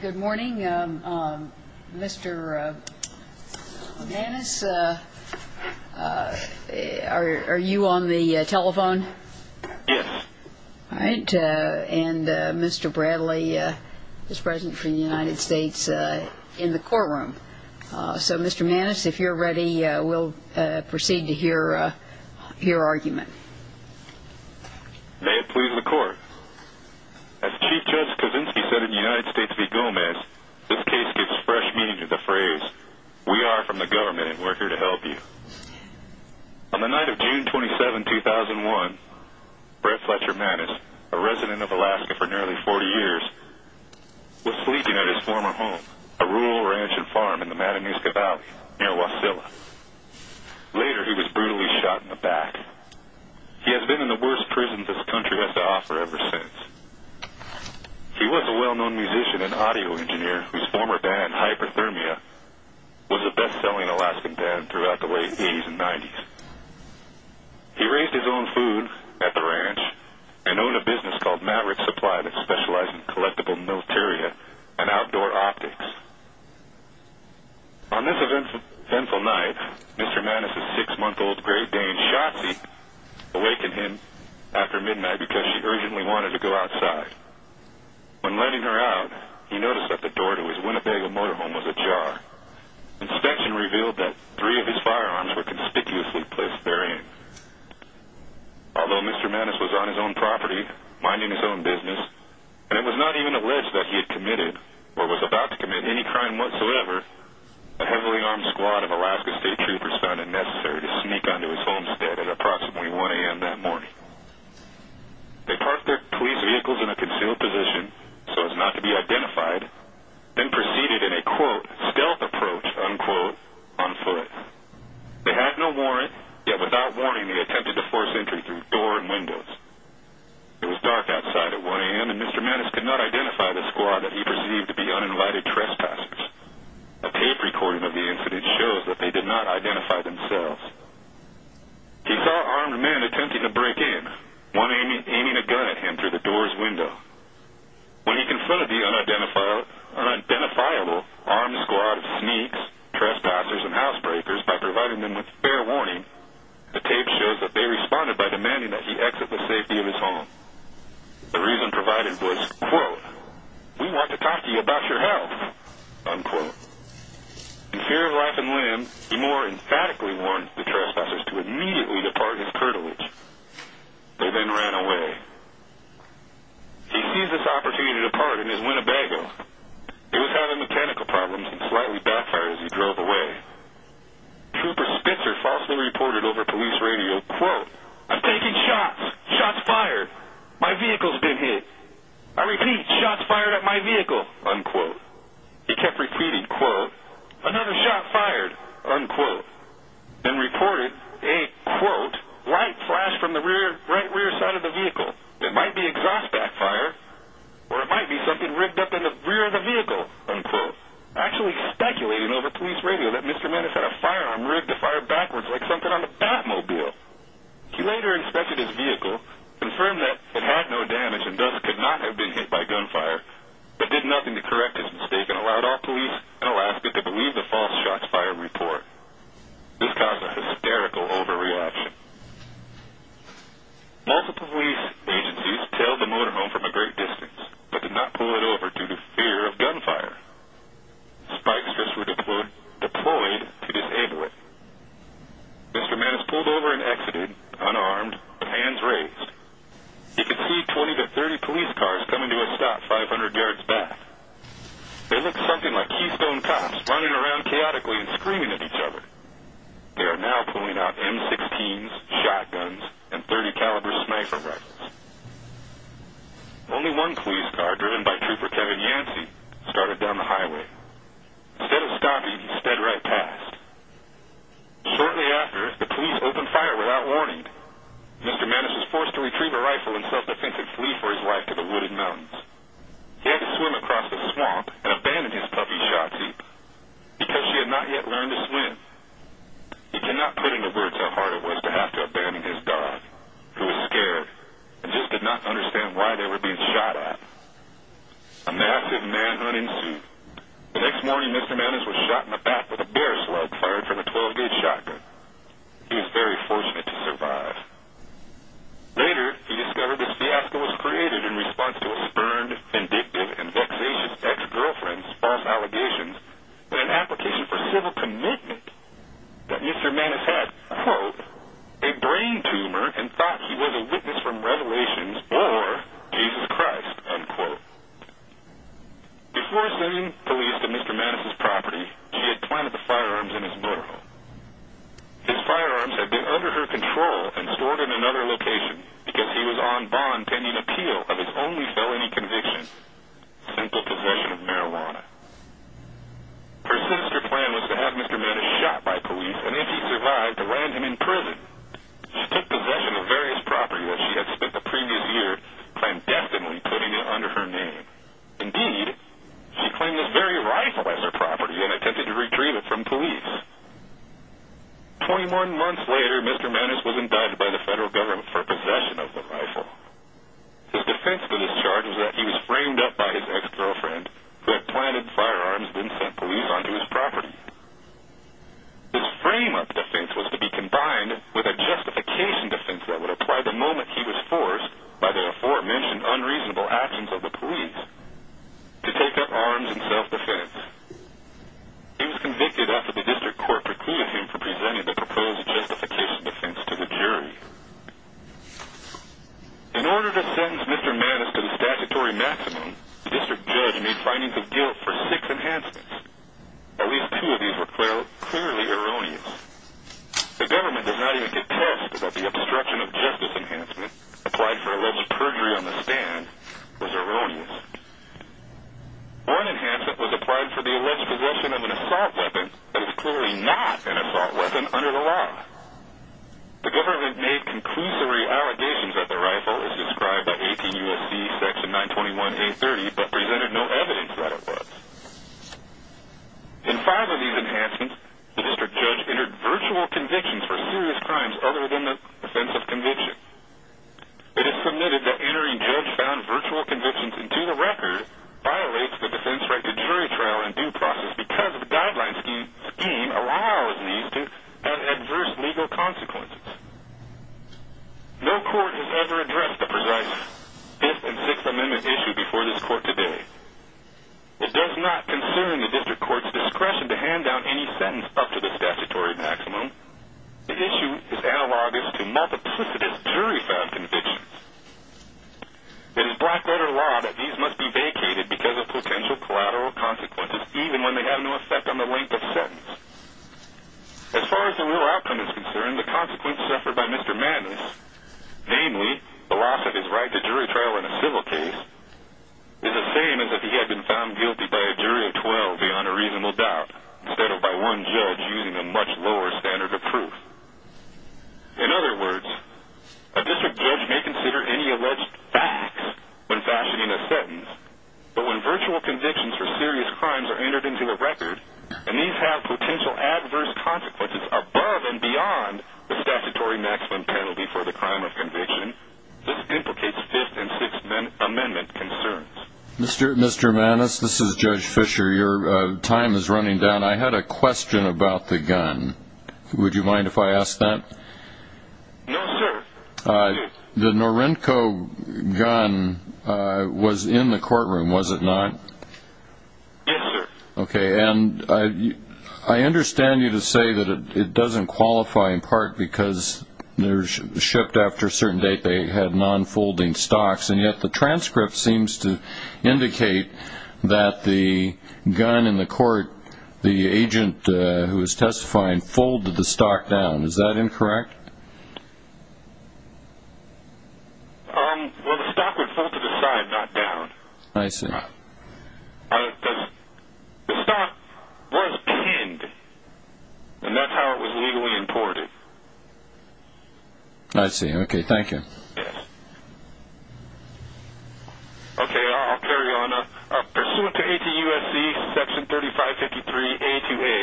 Good morning. Mr. Maness, are you on the telephone? Yes. All right. And Mr. Bradley is present from the United States in the courtroom. So, Mr. Maness, if you're ready, we'll proceed to hear your argument. May it please the court. As Chief Judge Kosinski said in United States v. Gomez, this case gives fresh meaning to the phrase, We are from the government and we're here to help you. On the night of June 27, 2001, Brett Fletcher Maness, a resident of Alaska for nearly 40 years, was sleeping at his former home, a rural ranch and farm in the Matanuska Valley, near Wasilla. Later, he was brutally shot in the back. He has been in the worst prison this country has to offer ever since. He was a well-known musician and audio engineer whose former band, Hyperthermia, was a best-selling Alaskan band throughout the late 80s and 90s. He raised his own food at the ranch and owned a business called Maverick Supply that specialized in collectible military and outdoor optics. On this eventful night, Mr. Maness' six-month-old Great Dane, Shotzi, awakened him after midnight because she urgently wanted to go outside. When letting her out, he noticed that the door to his Winnebago motorhome was ajar. Inspection revealed that three of his firearms were conspicuously placed therein. Although Mr. Maness was on his own property, minding his own business, and it was not even alleged that he had committed or was about to commit any crime whatsoever, a heavily armed squad of Alaska State Troopers found it necessary to sneak onto his homestead at approximately 1 a.m. that morning. They parked their police vehicles in a concealed position so as not to be identified, then proceeded in a, quote, stealth approach, unquote, on foot. They had no warrant, yet without warning, they attempted to force entry through door and windows. It was dark outside at 1 a.m., and Mr. Maness could not identify the squad that he perceived to be unenlightened trespassers. A tape recording of the incident shows that they did not identify themselves. He saw armed men attempting to break in, one aiming a gun at him through the door's window. When he confronted the unidentifiable armed squad of sneaks, trespassers, and housebreakers, by providing them with fair warning, the tape shows that they responded by demanding that he exit the safety of his home. The reason provided was, quote, we want to talk to you about your health, unquote. In fear of life and limb, he more emphatically warned the trespassers to immediately depart his curtilage. They then ran away. He seized this opportunity to depart in his Winnebago. He was having mechanical problems and slightly backfired as he drove away. Trooper Spitzer falsely reported over police radio, quote, I'm taking shots, shots fired, my vehicle's been hit. I repeat, shots fired at my vehicle, unquote. He kept repeating, quote, another shot fired, unquote. Then reported a, quote, light flash from the right rear side of the vehicle. It might be exhaust backfire or it might be something rigged up in the rear of the vehicle, unquote. Actually speculating over police radio that Mr. Maness had a firearm rigged to fire backwards like something on a Batmobile. He later inspected his vehicle, confirmed that it had no damage and thus could not have been hit by gunfire, but did nothing to correct his mistake and allowed all police in Alaska to believe the false shots fired report. This caused a hysterical overreaction. Multiple police agencies tailed the motorhome from a great distance, but did not pull it over due to fear of gunfire. Spike strips were deployed to disable it. Mr. Maness pulled over and exited, unarmed, hands raised. He could see 20 to 30 police cars coming to a stop 500 yards back. They looked something like keystone cops running around chaotically and screaming at each other. They are now pulling out M16s, shotguns, and .30 caliber sniper rifles. Only one police car, driven by Trooper Kevin Yancey, started down the highway. Instead of stopping, he sped right past. Shortly after, the police opened fire without warning. Mr. Maness was forced to retrieve a rifle and self-defense and flee for his life to the Wooded Mountains. He had to swim across the swamp and abandon his puppy, Shotzi, because she had not yet learned to swim. He could not put into words how hard it was to have to abandon his dog, who was scared and just did not understand why they were being shot at. A massive manhunt ensued. The next morning, Mr. Maness was shot in the back with a bear slug fired from a 12-gauge shotgun. He was very fortunate to survive. Later, he discovered this fiasco was created in response to a spurned, vindictive, and vexatious ex-girlfriend's false allegations and an application for civil commitment that Mr. Maness had, quote, a brain tumor and thought he was a witness from Revelations or Jesus Christ, unquote. Before sending police to Mr. Maness' property, she had planted the firearms in his motorhome. His firearms had been under her control and stored in another location because he was on bond pending appeal of his only felony conviction, simple possession of marijuana. Her sinister plan was to have Mr. Maness shot by police, and if he survived, to land him in prison. She took possession of various property that she had spent the previous year clandestinely putting it under her name. Indeed, she claimed this very rifle as her property and attempted to retrieve it from police. Twenty-one months later, Mr. Maness was indicted by the federal government for possession of the rifle. His defense for this charge was that he was framed up by his ex-girlfriend, who had planted firearms and then sent police onto his property. His frame-up defense was to be combined with a justification defense that would apply the moment he was forced by the aforementioned unreasonable actions of the police to take up arms in self-defense. He was convicted after the district court precluded him from presenting the proposed justification defense to the jury. In order to sentence Mr. Maness to the statutory maximum, the district judge made findings of guilt for six enhancements. At least two of these were clearly erroneous. The government does not even contest that the obstruction of justice enhancement, applied for alleged perjury on the stand, was erroneous. One enhancement was applied for the alleged possession of an assault weapon that is clearly not an assault weapon under the law. The government made conclusory allegations that the rifle is described by 18 U.S.C. section 921-830 but presented no evidence that it was. In five of these enhancements, the district judge entered virtual convictions for serious crimes other than the offense of conviction. It is submitted that entering judge-found virtual convictions into the record violates the defense-right to jury trial in due process because the guideline scheme allows these to have adverse legal consequences. No court has ever addressed the precise Fifth and Sixth Amendment issue before this court today. It does not concern the district court's discretion to hand down any sentence up to the statutory maximum. The issue is analogous to multiplicitous jury-found convictions. It is black-letter law that these must be vacated because of potential collateral consequences even when they have no effect on the length of sentence. As far as the real outcome is concerned, the consequence suffered by Mr. Mannis, namely, the loss of his right to jury trial in a civil case, is the same as if he had been found guilty by a jury of 12 beyond a reasonable doubt instead of by one judge using a much lower standard of proof. In other words, a district judge may consider any alleged facts when fashioning a sentence, but when virtual convictions for serious crimes are entered into a record and these have potential adverse consequences above and beyond the statutory maximum penalty for the crime of conviction, this implicates Fifth and Sixth Amendment concerns. Mr. Mannis, this is Judge Fisher. Your time is running down. I had a question about the gun. Would you mind if I ask that? No, sir. The Norinco gun was in the courtroom, was it not? Yes, sir. Okay, and I understand you to say that it doesn't qualify in part because they were shipped after a certain date, they had non-folding stocks, and yet the transcript seems to indicate that the gun in the court, the agent who is testifying, folded the stock down. Is that incorrect? Well, the stock would fold to the side, not down. I see. The stock was pinned, and that's how it was legally imported. I see. Okay, thank you. Yes. Okay, I'll carry on. Pursuant to A.T.U.S.C. Section 3553.A.2.A.,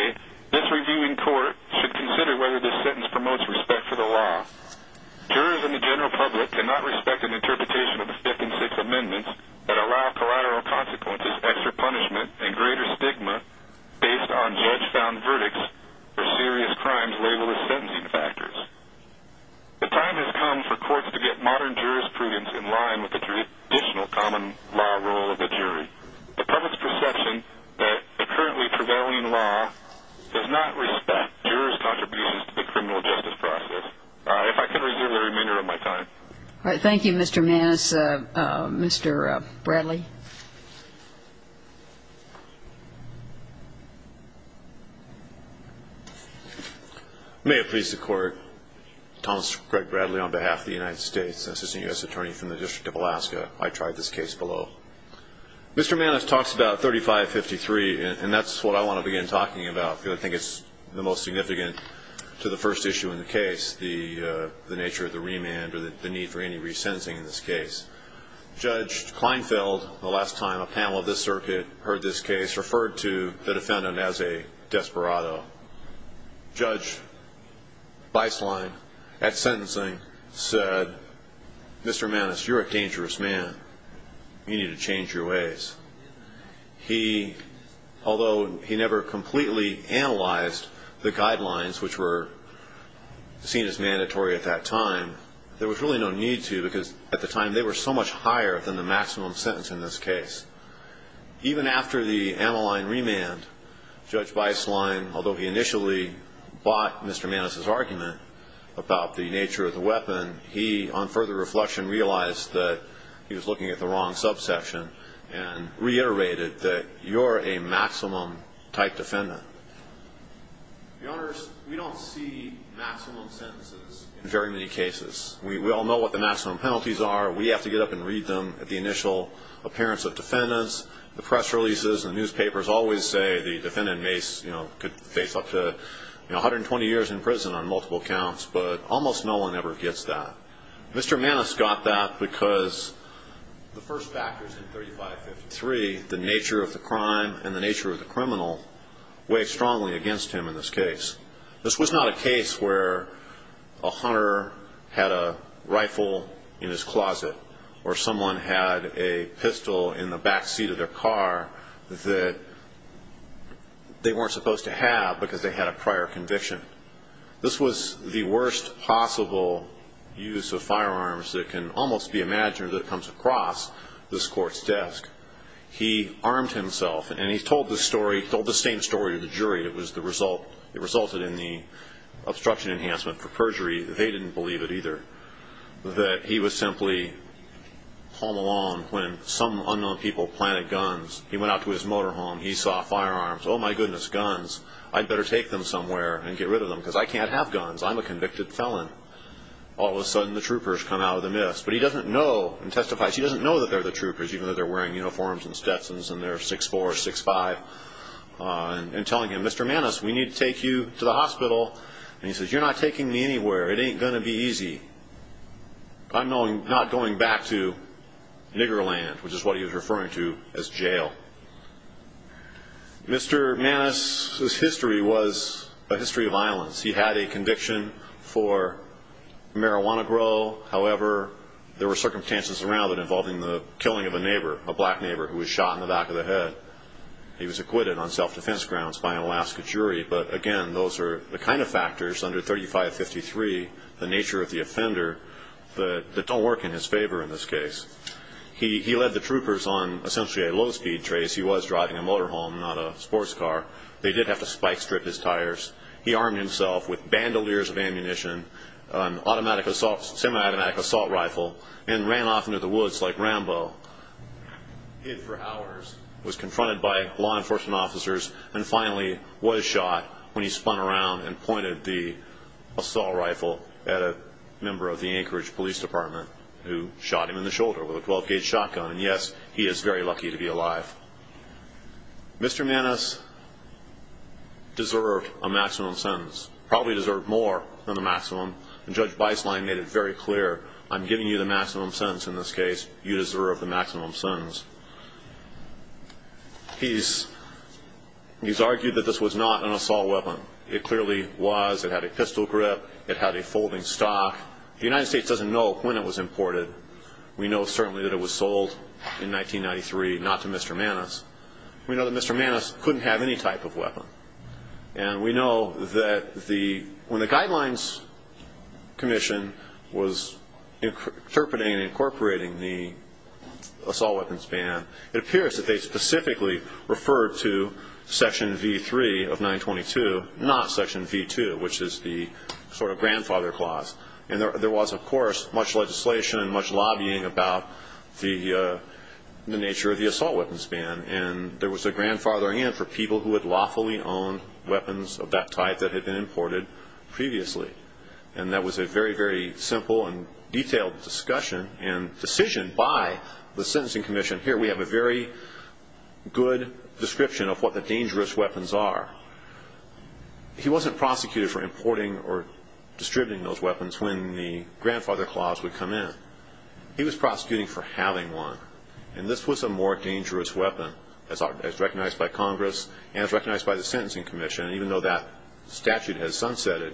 this reviewing court should consider whether this sentence promotes respect for the law. Jurors and the general public cannot respect an interpretation of the Fifth and Sixth Amendments that allow collateral consequences, extra punishment, and greater stigma based on judge-found verdicts for serious crimes labeled as sentencing factors. The time has come for courts to get modern jurors' prudence in line with the traditional common law rule of the jury. The public's perception that the currently prevailing law does not respect jurors' contributions to the criminal justice process. If I could reserve the remainder of my time. All right, thank you, Mr. Maness. Mr. Bradley? May it please the Court. Thomas Craig Bradley on behalf of the United States, an assistant U.S. attorney from the District of Alaska. I tried this case below. Mr. Maness talks about 3553, and that's what I want to begin talking about because I think it's the most significant to the first issue in the case, the nature of the remand or the need for any resentencing in this case. Judge Kleinfeld, on behalf of the District of Alaska, the last time a panel of this circuit heard this case, referred to the defendant as a desperado. Judge Beislein, at sentencing, said, Mr. Maness, you're a dangerous man. You need to change your ways. He, although he never completely analyzed the guidelines, which were seen as mandatory at that time, there was really no need to because, at the time, they were so much higher than the maximum sentence in this case. Even after the Ammaline remand, Judge Beislein, although he initially bought Mr. Maness's argument about the nature of the weapon, he, on further reflection, realized that he was looking at the wrong subsection and reiterated that you're a maximum-type defendant. Your Honors, we don't see maximum sentences in very many cases. We all know what the maximum penalties are. We have to get up and read them at the initial appearance of defendants. The press releases and newspapers always say the defendant could face up to 120 years in prison on multiple counts, but almost no one ever gets that. Mr. Maness got that because the first factors in 3553, the nature of the crime and the nature of the criminal, weigh strongly against him in this case. This was not a case where a hunter had a rifle in his closet or someone had a pistol in the backseat of their car that they weren't supposed to have because they had a prior conviction. This was the worst possible use of firearms that can almost be imagined that comes across this court's desk. He armed himself, and he told the same story to the jury. It resulted in the obstruction enhancement for perjury. They didn't believe it either, that he was simply home alone when some unknown people planted guns. He went out to his motorhome. He saw firearms. Oh, my goodness, guns. I'd better take them somewhere and get rid of them because I can't have guns. I'm a convicted felon. All of a sudden, the troopers come out of the mist. But he doesn't know and testifies. He doesn't know that they're the troopers, even though they're wearing uniforms and Stetsons and they're 6'4", 6'5", and telling him, Mr. Maness, we need to take you to the hospital. He says, you're not taking me anywhere. It ain't going to be easy. I'm not going back to nigger land, which is what he was referring to as jail. Mr. Maness's history was a history of violence. He had a conviction for marijuana grow. However, there were circumstances around it involving the killing of a neighbor, a black neighbor who was shot in the back of the head. He was acquitted on self-defense grounds by an Alaska jury. But, again, those are the kind of factors under 3553, the nature of the offender, that don't work in his favor in this case. He led the troopers on essentially a low-speed trace. He was driving a motorhome, not a sports car. They did have to spike strip his tires. He armed himself with bandoliers of ammunition, an automatic assault, semi-automatic assault rifle, and ran off into the woods like Rambo. He hid for hours, was confronted by law enforcement officers, and finally was shot when he spun around and pointed the assault rifle at a member of the Anchorage Police Department who shot him in the shoulder with a 12-gauge shotgun. And, yes, he is very lucky to be alive. Mr. Maness deserved a maximum sentence, probably deserved more than the maximum, and Judge Beislein made it very clear, I'm giving you the maximum sentence in this case. You deserve the maximum sentence. He's argued that this was not an assault weapon. It clearly was. It had a pistol grip. It had a folding stock. The United States doesn't know when it was imported. We know certainly that it was sold in 1993, not to Mr. Maness. We know that Mr. Maness couldn't have any type of weapon. And we know that when the Guidelines Commission was interpreting and incorporating the assault weapons ban, it appears that they specifically referred to Section V3 of 922, not Section V2, which is the sort of grandfather clause. And there was, of course, much legislation and much lobbying about the nature of the assault weapons ban. And there was a grandfathering in for people who had lawfully owned weapons of that type that had been imported previously. And that was a very, very simple and detailed discussion and decision by the Sentencing Commission. Here we have a very good description of what the dangerous weapons are. He wasn't prosecuted for importing or distributing those weapons when the grandfather clause would come in. He was prosecuting for having one. And this was a more dangerous weapon as recognized by Congress and as recognized by the Sentencing Commission, even though that statute has sunsetted.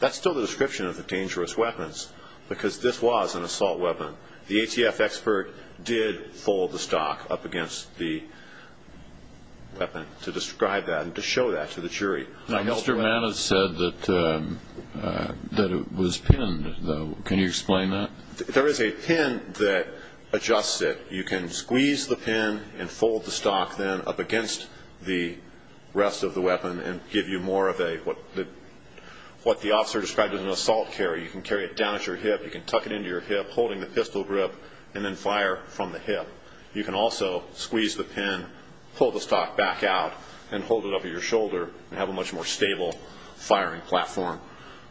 That's still the description of the dangerous weapons because this was an assault weapon. The ATF expert did fold the stock up against the weapon to describe that and to show that to the jury. Mr. Maness said that it was pinned. Can you explain that? There is a pin that adjusts it. You can squeeze the pin and fold the stock then up against the rest of the weapon and give you more of what the officer described as an assault carry. You can carry it down at your hip. You can tuck it into your hip, holding the pistol grip, and then fire from the hip. You can also squeeze the pin, pull the stock back out, and hold it up at your shoulder and have a much more stable firing platform.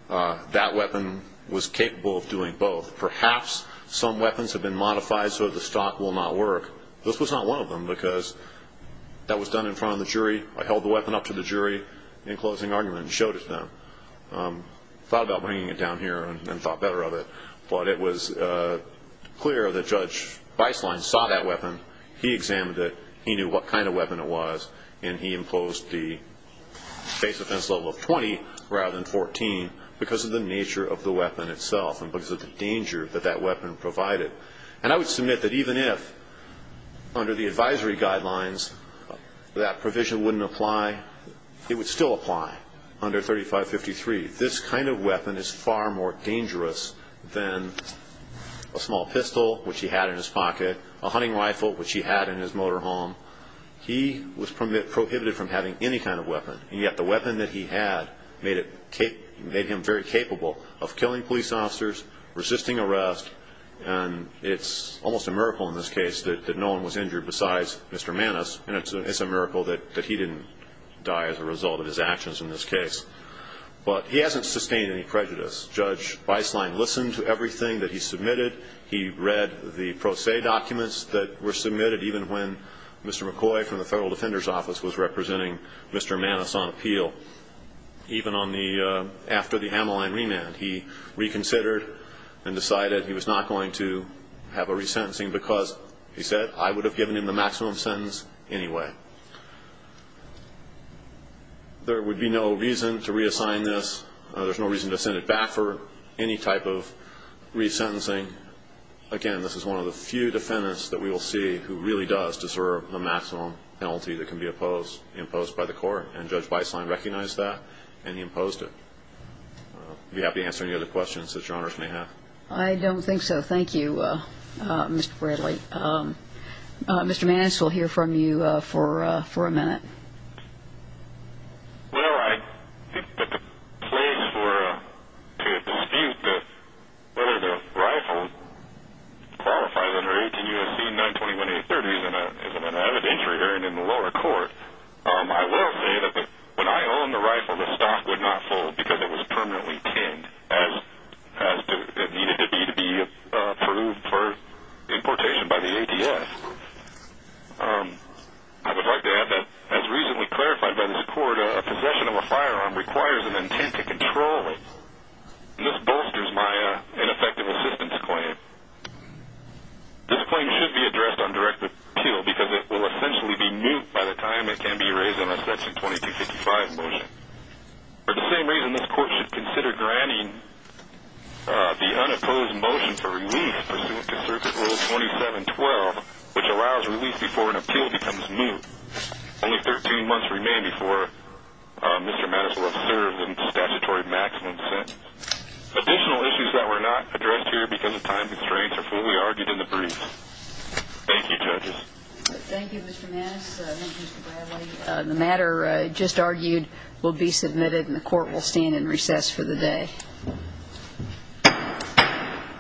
That weapon was capable of doing both. Perhaps some weapons have been modified so that the stock will not work. This was not one of them because that was done in front of the jury. I held the weapon up to the jury in closing argument and showed it to them. I thought about bringing it down here and thought better of it. But it was clear that Judge Beislein saw that weapon. He examined it. He knew what kind of weapon it was. And he imposed the base offense level of 20 rather than 14 because of the nature of the weapon itself and because of the danger that that weapon provided. And I would submit that even if, under the advisory guidelines, that provision wouldn't apply, it would still apply under 3553. This kind of weapon is far more dangerous than a small pistol, which he had in his pocket, a hunting rifle, which he had in his motorhome. He was prohibited from having any kind of weapon, and yet the weapon that he had made him very capable of killing police officers, resisting arrest. And it's almost a miracle in this case that no one was injured besides Mr. Maness, and it's a miracle that he didn't die as a result of his actions in this case. But he hasn't sustained any prejudice. Judge Beislein listened to everything that he submitted. He read the pro se documents that were submitted, even when Mr. McCoy from the Federal Defender's Office was representing Mr. Maness on appeal. Even after the Hamline remand, he reconsidered and decided he was not going to have a resentencing because, he said, I would have given him the maximum sentence anyway. There would be no reason to reassign this. There's no reason to send it back for any type of resentencing. Again, this is one of the few defendants that we will see who really does deserve the maximum penalty that can be imposed by the court, and Judge Beislein recognized that and he imposed it. I'd be happy to answer any other questions that Your Honors may have. I don't think so. Thank you, Mr. Bradley. Mr. Maness will hear from you for a minute. Well, I think that the place to dispute whether the rifle qualifies under 18 U.S.C. 921-830 is an evidentiary in the lower court. I will say that when I owned the rifle, the stock would not fold because it was permanently tinned, as it needed to be to be approved for importation by the ATS. I would like to add that, as recently clarified by this court, a possession of a firearm requires an intent to control it, and this bolsters my ineffective assistance claim. This claim should be addressed on direct appeal because it will essentially be moot by the time it can be raised in a Section 2255 motion. For the same reason, this court should consider granting the unopposed motion for relief pursuant to Circuit Rule 2712, which allows relief before an appeal becomes moot. Only 13 months remain before Mr. Maness will have served a statutory maximum sentence. Additional issues that were not addressed here because of time constraints are fully argued in the briefs. Thank you, judges. Thank you, Mr. Maness. Thank you, Mr. Bradley. The matter just argued will be submitted, and the court will stand in recess for the day.